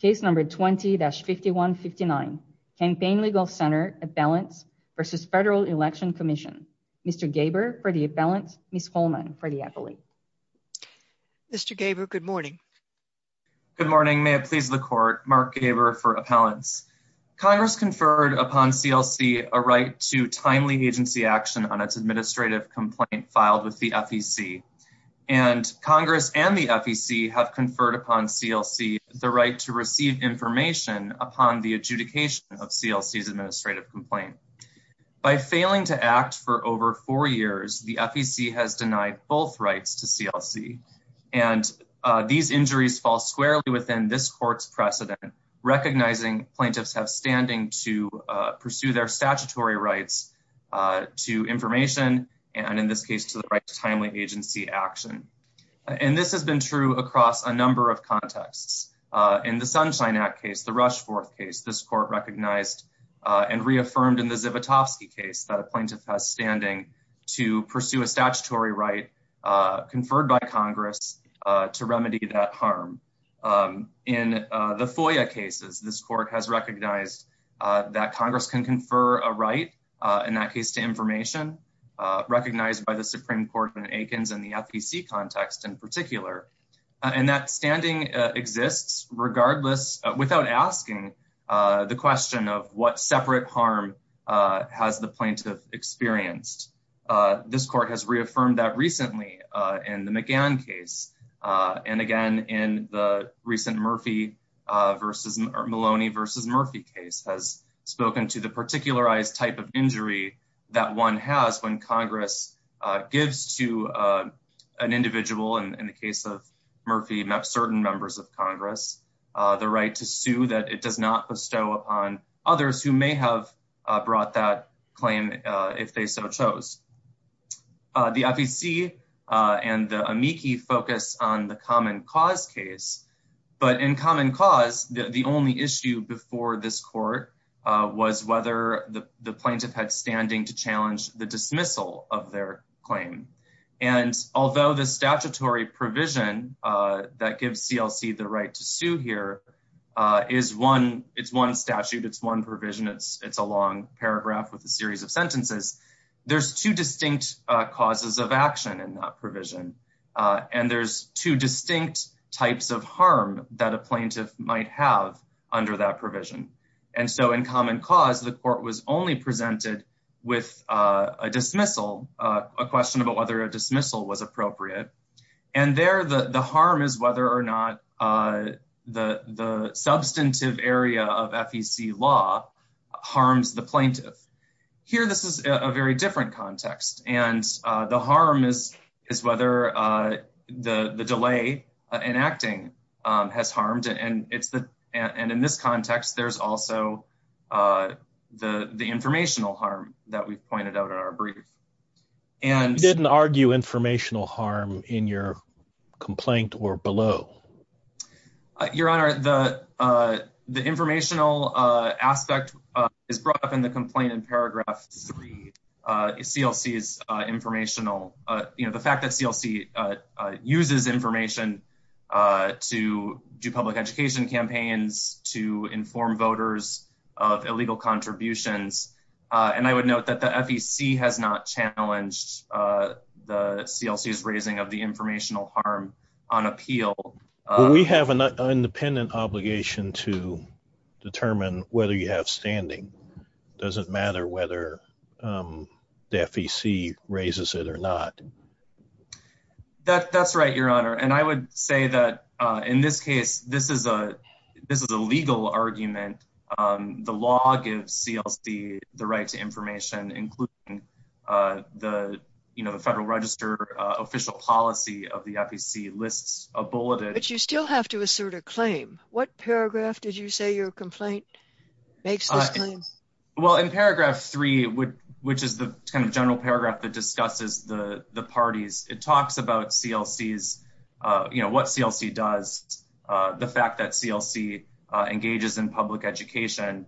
Case No. 20-5159, Campaign Legal Center Appellants v. Federal Election Commission. Mr. Gaber for the appellants, Ms. Holman for the appellate. Mr. Gaber, good morning. Good morning, may it please the court. Mark Gaber for appellants. Congress conferred upon CLC a right to timely agency action on its administrative complaint filed with the FEC, and Congress and the FEC have conferred upon CLC the right to receive information upon the adjudication of CLC's administrative complaint. By failing to act for over four years, the FEC has denied both rights to CLC, and these injuries fall squarely within this court's precedent, recognizing plaintiffs have a statutory right to information, and in this case, to the right to timely agency action. And this has been true across a number of contexts. In the Sunshine Act case, the Rushforth case, this court recognized and reaffirmed in the Zivotofsky case that a plaintiff has standing to pursue a statutory right conferred by Congress to remedy that harm. In the FOIA cases, this court has recognized that Congress can confer a right in that case to information, recognized by the Supreme Court in Aikens and the FEC context in particular, and that standing exists regardless, without asking the question of what separate harm has the plaintiff experienced. This court has reaffirmed that recently in the McGann case, and again, in the recent Murphy versus Maloney versus Murphy case, has spoken to the particularized type of injury that one has when Congress gives to an individual, in the case of Murphy, certain members of Congress, the right to sue that it does not bestow upon others who may have brought that claim if they so chose. The FEC and the amici focus on the common cause case, but in common cause, the only issue before this court was whether the plaintiff had standing to challenge the dismissal of their claim. And although the statutory provision that gives CLC the right to sue here is one, it's one statute, it's one provision, it's a long paragraph with a series of sentences, there's two distinct causes of action in that provision. And there's two distinct types of harm that a plaintiff might have under that provision. And so in common cause, the court was only presented with a dismissal, a question about whether a dismissal was appropriate. And there, the harm is whether or not the substantive area of FEC law harms the plaintiff. Here, this is a very different context. And the harm is, is whether the delay in acting has harmed and it's the and in this context, there's also the the informational harm that we've pointed out in our brief. And didn't argue informational harm in your complaint or below. Your Honor, the the informational aspect is brought up in the complaint in paragraph three. CLC is informational. You know, the fact that CLC uses information to do public education campaigns to inform voters of illegal contributions. And I would note that the FEC has not challenged the CLC is raising of the informational harm on appeal. We have an independent obligation to determine whether you have standing doesn't matter whether the FEC raises it or not. That that's right, Your Honor. And I would say that in this case, this is a this is a legal argument. The law gives CLC the right to information, including the, you know, the Federal Register official policy of the FEC lists a bulleted. But you still have to assert a claim. What paragraph did you say your complaint makes? Well, in paragraph three, which is the kind of general paragraph that discusses the parties, it talks about CLC's, you know, what CLC does, the fact that CLC engages in public education.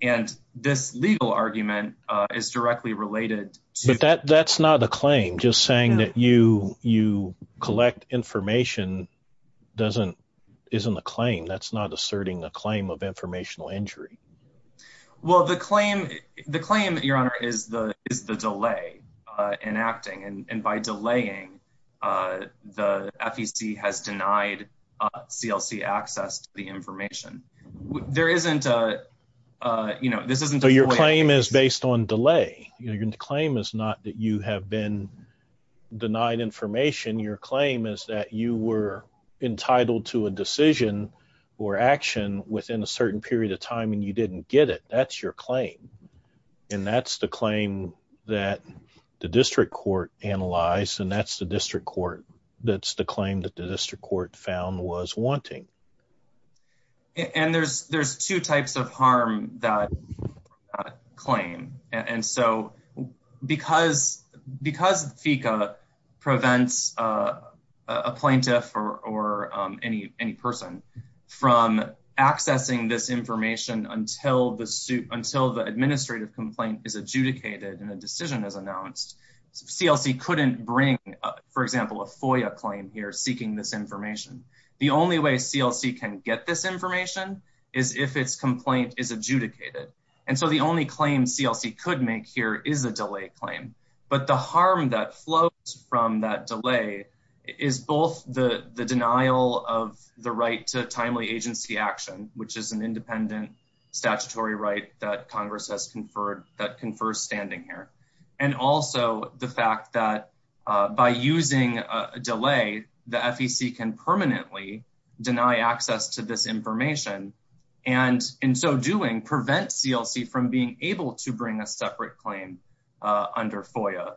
And this legal argument is directly related to that. That's not a claim. Just saying that you you collect information doesn't isn't a claim. That's not asserting a claim of informational injury. Well, the claim the claim, Your Honor, is the is the delay enacting and by delaying the FEC has denied CLC access to the information. There isn't a you know, this isn't your claim is based on delay. Your claim is not that you have been denied information. Your claim is that you were entitled to a decision or action within a claim that the district court analyzed. And that's the district court. That's the claim that the district court found was wanting. And there's there's two types of harm that claim. And so because because FECA prevents a plaintiff or any any person from accessing this information if the complaint is adjudicated and the decision is announced, CLC couldn't bring, for example, a FOIA claim here seeking this information. The only way CLC can get this information is if its complaint is adjudicated. And so the only claim CLC could make here is a delay claim. But the harm that flows from that delay is both the the denial of the right to independent statutory right that Congress has conferred that confer standing here and also the fact that by using a delay, the FEC can permanently deny access to this information and in so doing prevent CLC from being able to bring a separate claim under FOIA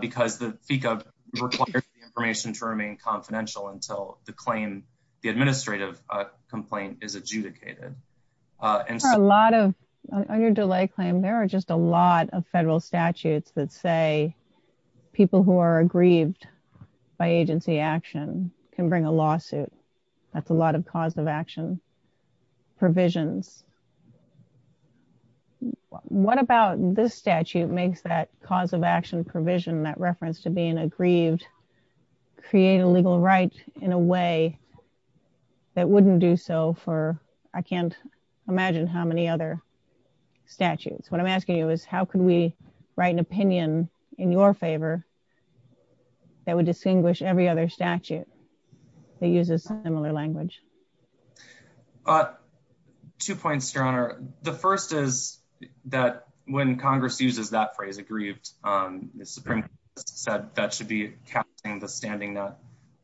because the FECA requires the information to remain confidential until the claim the administrative complaint is adjudicated. And so a lot of under delay claim, there are just a lot of federal statutes that say people who are aggrieved by agency action can bring a lawsuit. That's a lot of cause of action provisions. What about this statute makes that cause of action provision that reference to being aggrieved create a legal right in a way that wouldn't do so for, I can't imagine how many other statutes. What I'm asking you is how could we write an opinion in your favor that would distinguish every other statute that uses similar language? But two points, Your Honor. The first is that when Congress uses that phrase aggrieved, the Supreme Court said that should be casting the standing nut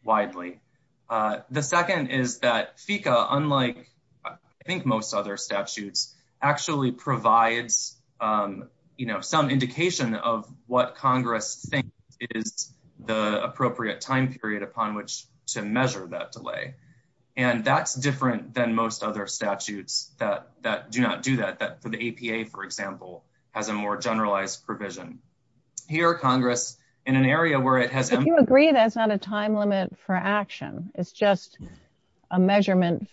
widely. The second is that FECA, unlike I think most other statutes, actually provides some indication of what Congress thinks is the appropriate time period upon which to measure that delay. And that's different than most other statutes that do not do that, that for the APA, for example, has a more generalized provision. Here, Congress in an area where it has- If you agree that's not a time limit for action, it's just a measurement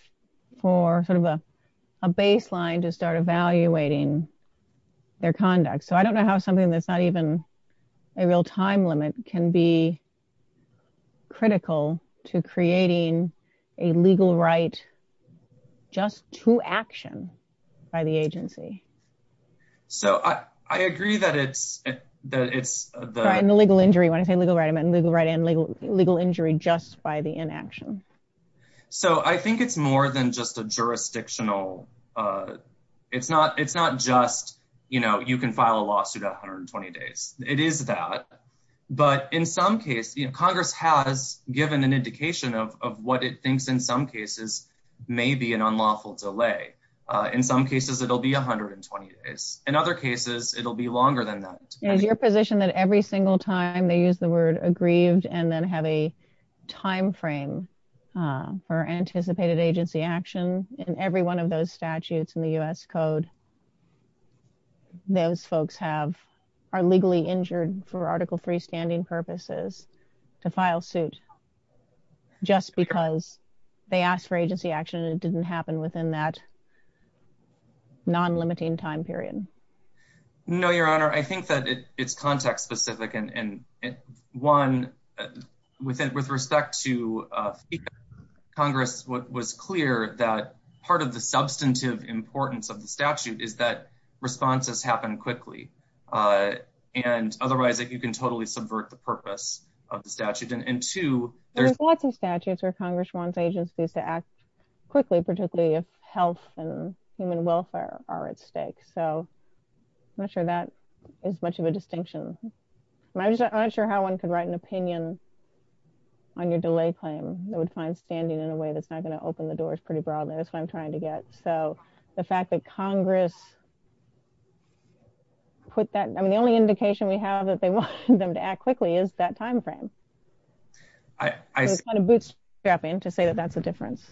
for sort of a baseline to start evaluating their conduct. So I don't know how something that's not even a real time limit can be critical to creating a legal right just to action by the agency. So I agree that it's- Right, and the legal injury, when I say legal right, I meant legal right and legal injury just by the inaction. So I think it's more than just jurisdictional. It's not just you can file a lawsuit at 120 days. It is that. But in some case, Congress has given an indication of what it thinks in some cases may be an unlawful delay. In some cases, it'll be 120 days. In other cases, it'll be longer than that. Is your position that every single time they use the word aggrieved and then have a in every one of those statutes in the U.S. Code, those folks are legally injured for Article III standing purposes to file suit just because they asked for agency action and it didn't happen within that non-limiting time period? No, Your Honor. I think that it's context-specific. And one, with respect to Congress, what was clear that part of the substantive importance of the statute is that responses happen quickly. And otherwise, you can totally subvert the purpose of the statute. And two- There's lots of statutes where Congress wants agencies to act quickly, particularly if health and human welfare are at stake. So I'm not sure that is much of a distinction. I'm just not sure how one could write an opinion on your delay claim that would find standing in a way that's not going to open the doors pretty broadly. That's what I'm trying to get. So the fact that Congress put that- I mean, the only indication we have that they wanted them to act quickly is that time frame. It's kind of bootstrapping to say that that's a difference.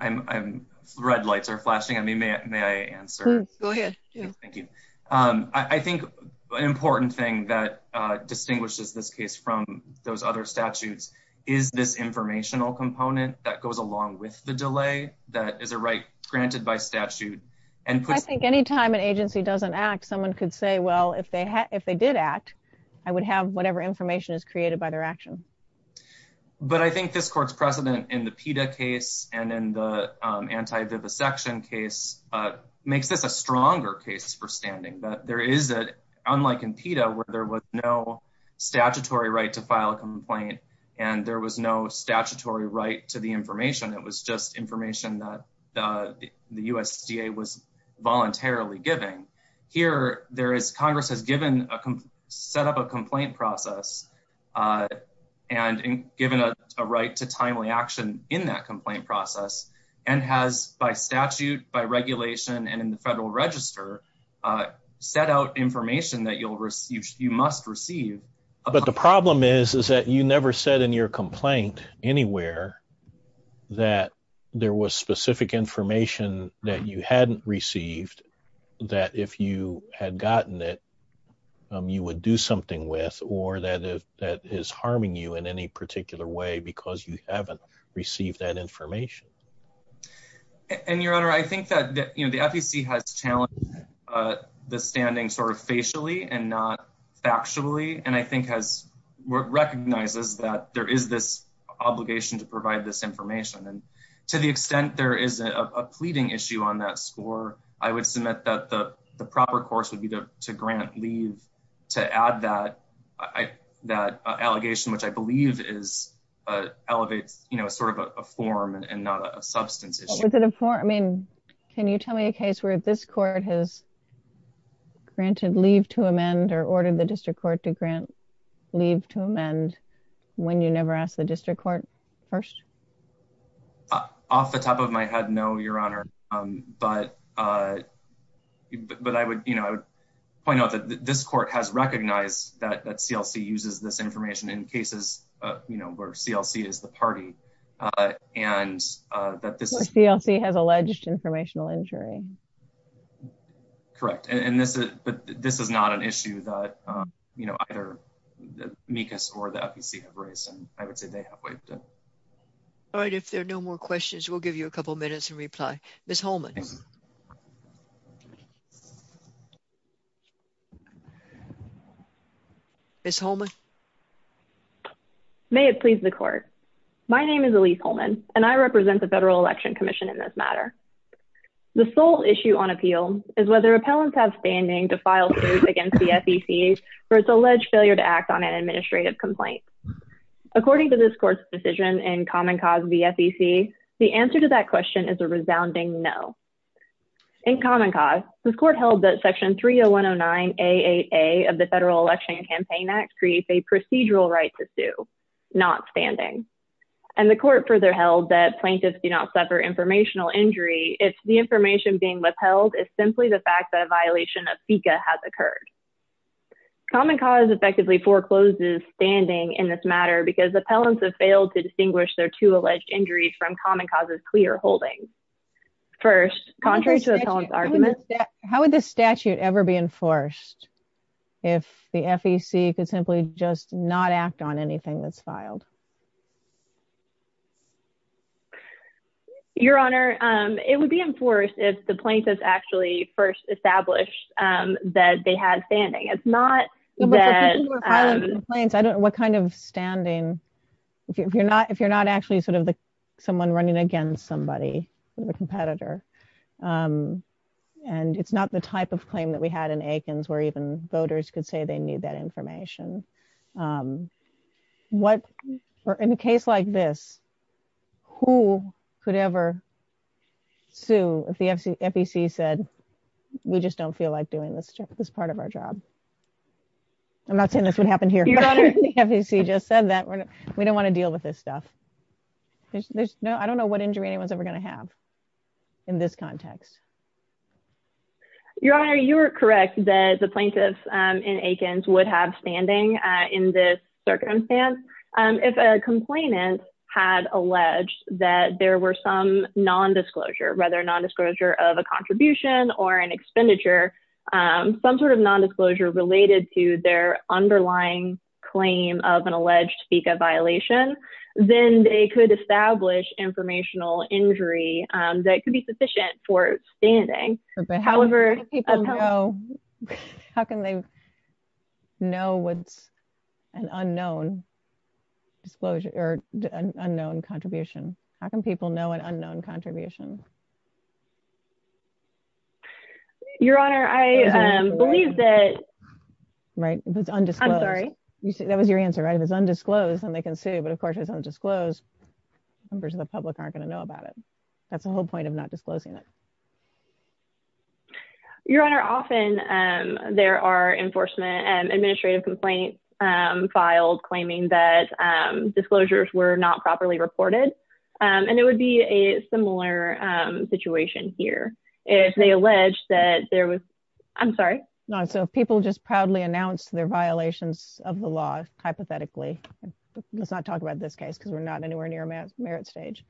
I'm- red lights are flashing on me. May I answer? Go ahead. Thank you. I think an important thing that distinguishes this case from those other statutes is this informational component that goes along with the delay that is a right granted by statute and puts- I think anytime an agency doesn't act, someone could say, well, if they did act, I would have whatever information is created by their action. But I think this court's precedent in the PETA case and in the anti-vivisection case makes this a stronger case for standing, that there is a- unlike in PETA, where there was no statutory right to file a complaint and there was no statutory right to the information. It was just information that the USDA was voluntarily giving. Here, there is- Congress has given a- set up a complaint process and given a right to timely action in that complaint process and has, by statute, by regulation, and in the federal register, set out information that you'll receive- you must receive. But the problem is, is that you never said in your complaint anywhere that there was specific information that you hadn't received, that if you had gotten it, you would do something with, or that is harming you in any particular way because you haven't received that information. And your honor, I think that, you know, the FEC has challenged the standing sort of facially and not factually, and I think has- recognizes that there is this obligation to provide this information. And to the extent there is a pleading issue on that score, I would submit that the that allegation, which I believe is- elevates, you know, sort of a form and not a substance issue. Was it a form? I mean, can you tell me a case where this court has granted leave to amend or ordered the district court to grant leave to amend when you never asked the district court first? Off the top of my head, no, your honor. But I would, you know, I would point out that this uses this information in cases, you know, where CLC is the party and that this- Where CLC has alleged informational injury. Correct. And this is, but this is not an issue that, you know, either MECAS or the FEC have raised, and I would say they have waived it. All right. If there are no more questions, we'll give you a couple of minutes and reply. Ms. Holman. Ms. Holman. May it please the court. My name is Elyse Holman, and I represent the Federal Election Commission in this matter. The sole issue on appeal is whether appellants have standing to file suit against the FEC for its alleged failure to act on an administrative complaint. According to this court's decision in Common Cause v. FEC, the answer to that question is a resounding no. In Common Cause, the court held that Section 30109AAA of the Federal Election Campaign Act creates a procedural right to sue, not standing. And the court further held that plaintiffs do not suffer informational injury if the information being upheld is simply the fact that a violation of FECA has occurred. Common Cause effectively forecloses standing in this matter because appellants have failed to distinguish their two alleged injuries from first, contrary to the appellant's argument. How would this statute ever be enforced if the FEC could simply just not act on anything that's filed? Your Honor, it would be enforced if the plaintiff actually first established that they had standing. It's not that… What kind of standing, if you're not actually sort of someone running against somebody, the competitor, and it's not the type of claim that we had in Aikens where even voters could say they need that information. What… In a case like this, who could ever sue if the FEC said, we just don't feel like doing this part of our job? I'm not saying this would happen here, but if the FEC just said that, we don't want to deal with this stuff. There's no… I don't know what injury anyone's ever going to have in this context. Your Honor, you were correct that the plaintiffs in Aikens would have standing in this circumstance. If a complainant had alleged that there were some non-disclosure, whether non-disclosure of a contribution or an expenditure, some sort of non-disclosure related to their underlying claim of an alleged FECA violation, then they could establish informational injury that could be sufficient for standing. However… How can people know… How can they know what's an unknown disclosure or an unknown contribution? How can people know an unknown contribution? Your Honor, I believe that… Right, it's undisclosed. I'm sorry. That was your answer, right? If it's undisclosed, then they can sue, but of course, if it's undisclosed, members of the public aren't going to know about it. That's the whole point of not disclosing it. Your Honor, often there are enforcement and administrative complaints filed claiming that disclosures were not properly reported, and it would be a similar situation here. If they allege that there was… I'm sorry. No, so people just proudly announced their violations of the law, hypothetically. Let's not talk about this case because we're not anywhere near merit stage,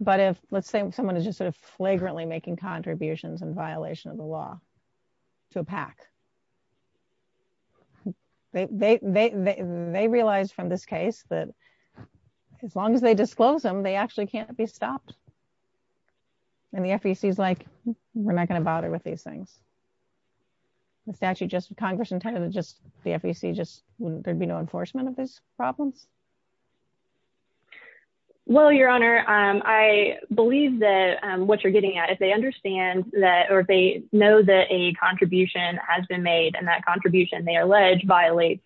but if, let's say, someone is just sort of flagrantly making contributions in violation of the law to a PAC, they realize from this case that as long as they disclose them, they actually can't be stopped, and the FEC is like, we're not going to bother with these things. The statute, just Congress intended, just the FEC, just there'd be no enforcement of these problems? Well, Your Honor, I believe that what you're getting at, if they understand that, or if they know that a contribution has been made, and that contribution, they allege, violates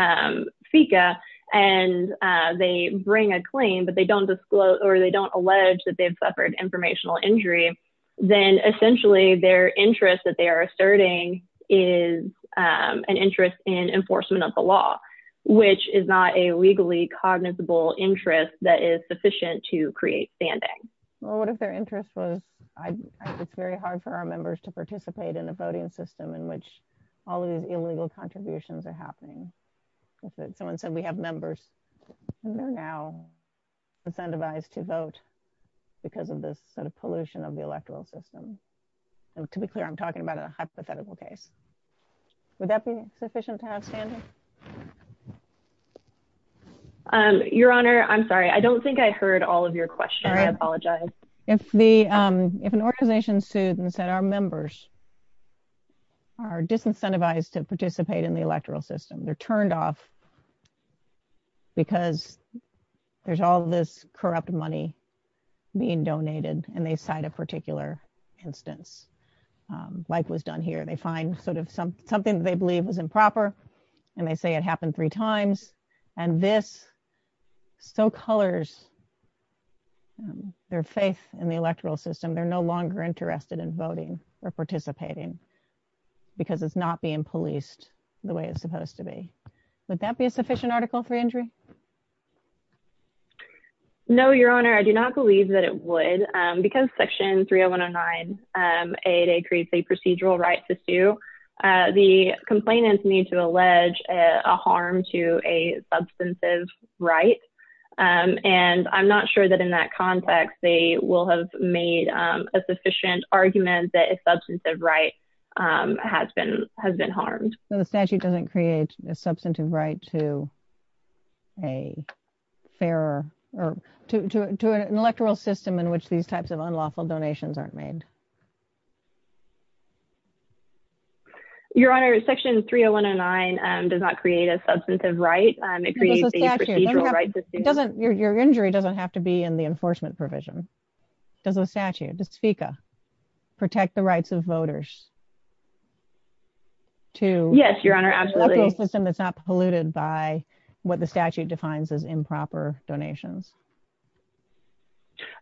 FECA, and they bring a claim, but they don't disclose, or they don't allege that they've suffered informational injury, then essentially their interest that they are asserting is an interest in enforcement of the law, which is not a legally cognizable interest that is sufficient to create standing. Well, what if their interest was, it's very hard for our members to participate in a voting system in which all of these illegal contributions are happening? If someone said, we have members, and they're now incentivized to vote because of this sort of pollution of the electoral system. To be clear, I'm talking about a hypothetical case. Would that be sufficient to have standing? Your Honor, I'm sorry. I don't think I heard all of your question. I apologize. If an organization sued and said our members are disincentivized to participate in the electoral system, they're turned off because there's all this corrupt money being donated, and they cite a particular instance like was done here. They find sort of something that they believe was improper, and they say it happened three times, and this so colors their faith in the electoral system. They're no longer interested in voting or participating because it's not being policed the way it's supposed to be. Would that be a sufficient article for injury? No, Your Honor. I do not believe that it would because Section 30109 creates a procedural right to sue. The complainants need to allege a harm to a substantive right, and I'm not sure that in that context they will have made a sufficient argument that a substantive right has been harmed. So the statute doesn't create a substantive right to an electoral system in which these types of unlawful donations aren't made? Your Honor, Section 30109 does not create a substantive right. It creates a procedural right to sue. Your injury doesn't have to be in the enforcement electoral system that's not polluted by what the statute defines as improper donations.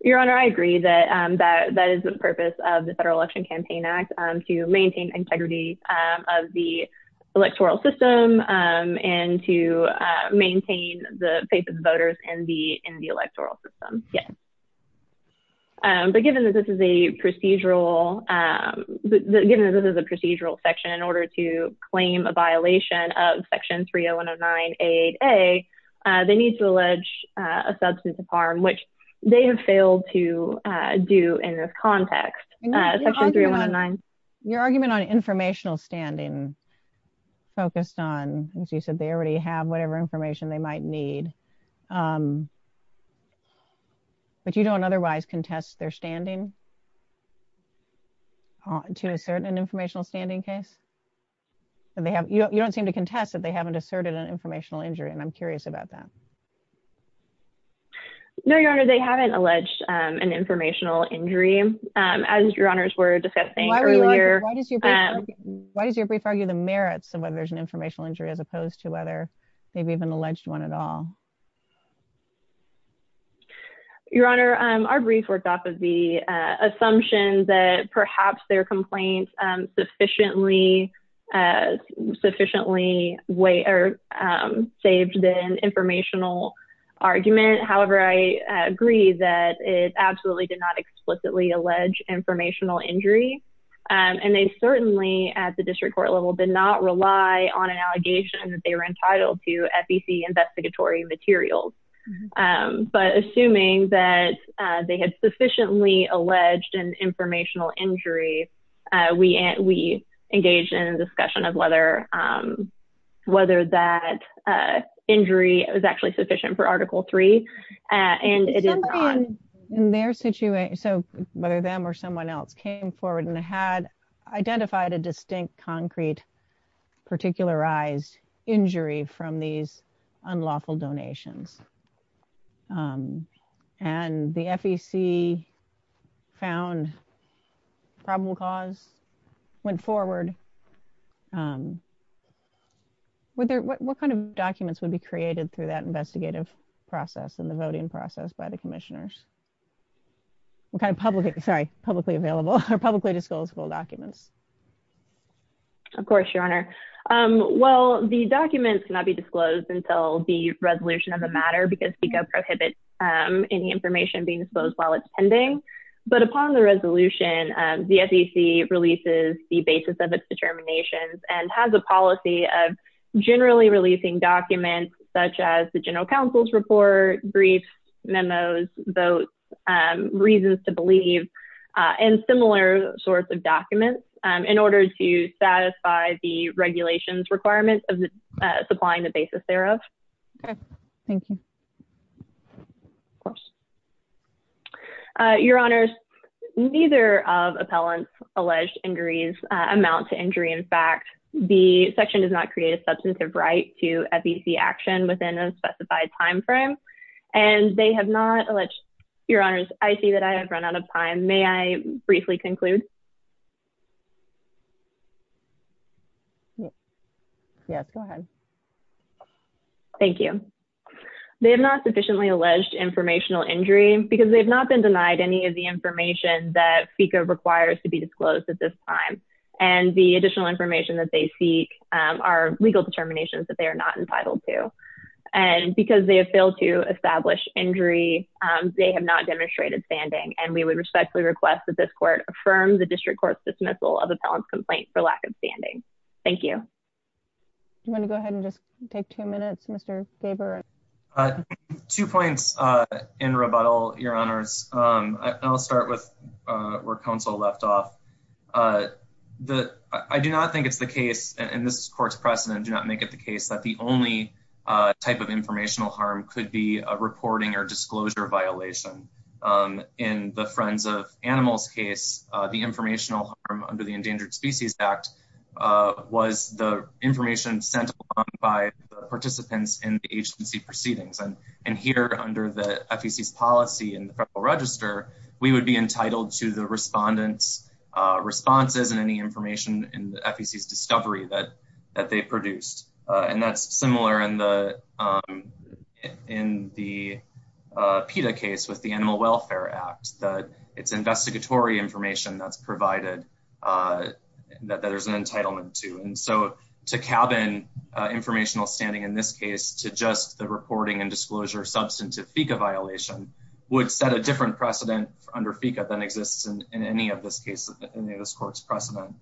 Your Honor, I agree that that is the purpose of the Federal Election Campaign Act to maintain integrity of the electoral system and to maintain the faith of the voters in the electoral system. Yes. But given that this is a procedural section in order to claim a violation of Section 30109 A8a, they need to allege a substantive harm, which they have failed to do in this context. Your argument on informational standing focused on, as you said, they already have information they might need, but you don't otherwise contest their standing to assert an informational standing case? You don't seem to contest that they haven't asserted an informational injury, and I'm curious about that. No, Your Honor, they haven't alleged an informational injury. As Your Honor were discussing earlier— Why does your brief argue the merits of whether there's an informational injury as opposed to whether they've even alleged one at all? Your Honor, our brief worked off of the assumption that perhaps their complaint sufficiently saved the informational argument. However, I agree that it absolutely did not explicitly allege informational injury, and they certainly at the district court level did not rely on an allegation that they were entitled to FEC investigatory materials. But assuming that they had sufficiently alleged an informational injury, we engaged in a discussion of whether that injury was actually sufficient for Article III, and it is not. So whether them or someone else came forward and had identified a distinct concrete particularized injury from these unlawful donations, and the FEC found probable cause, went forward, what kind of documents would be created through that investigative process and the voting process by the commissioners? What kind of publicly available or publicly publicly available documents would be created through the FEC? Well, the documents cannot be disclosed until the resolution of the matter because FECA prohibits any information being disclosed while it's pending. But upon the resolution, the FEC releases the basis of its determinations and has a policy of generally releasing documents such as the general counsel's report, briefs, memos, votes, reasons to believe, and similar sorts of documents in order to satisfy the regulations requirements of supplying the basis thereof. Okay. Thank you. Of course. Your Honors, neither of appellants' alleged injuries amount to injury. In fact, the section does not create a substantive right to FEC action within a specified time frame, and they have not alleged... Your Honors, I see that I have run out of time. May I briefly conclude? Yes, go ahead. Thank you. They have not sufficiently alleged informational injury because they have not been denied any of the information that FECA requires to be disclosed at this time, and the additional information that they seek are legal determinations that are not entitled to. And because they have failed to establish injury, they have not demonstrated standing, and we would respectfully request that this court affirm the district court's dismissal of appellant's complaint for lack of standing. Thank you. Do you want to go ahead and just take two minutes, Mr. Gaber? Two points in rebuttal, Your Honors. I'll start with where counsel left off. I do not think it's the case, and this court's precedent do not make it the case that the only type of informational harm could be a reporting or disclosure violation. In the Friends of Animals case, the informational harm under the Endangered Species Act was the information sent along by the participants in the agency proceedings. And here, under the FEC's policy in the Federal Register, we would be entitled to the respondents' responses and any information in the FEC's discovery that they produced. And that's similar in the PETA case with the Animal Welfare Act, that it's investigatory information that's provided that there's an entitlement to. And so to cabin informational standing in this case to just the reporting and disclosure substantive FECA violation would set a different precedent under FECA than exists in any of this case, in this court's precedent.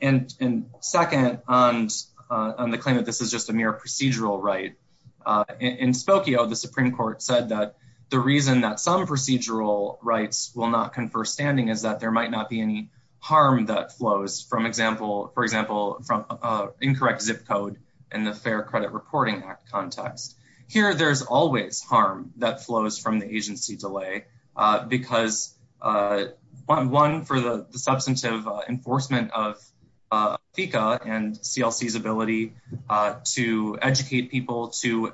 And second, on the claim that this is just a mere procedural right, in Spokio, the Supreme Court said that the reason that some procedural rights will not confer standing is that there might not be any harm that flows, for example, from incorrect zip code in the Fair Credit Reporting Act context. Here, there's always harm that flows from the agency delay because, one, for the substantive enforcement of FECA and CLC's ability to educate people to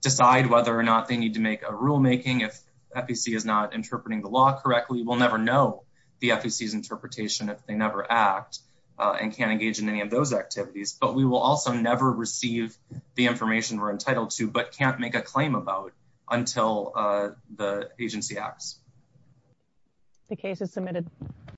decide whether or not they need to make a rule-making. If FEC is not interpreting the law correctly, we'll never know the FEC's interpretation if never act and can't engage in any of those activities. But we will also never receive the information we're entitled to but can't make a claim about until the agency acts. The case is submitted.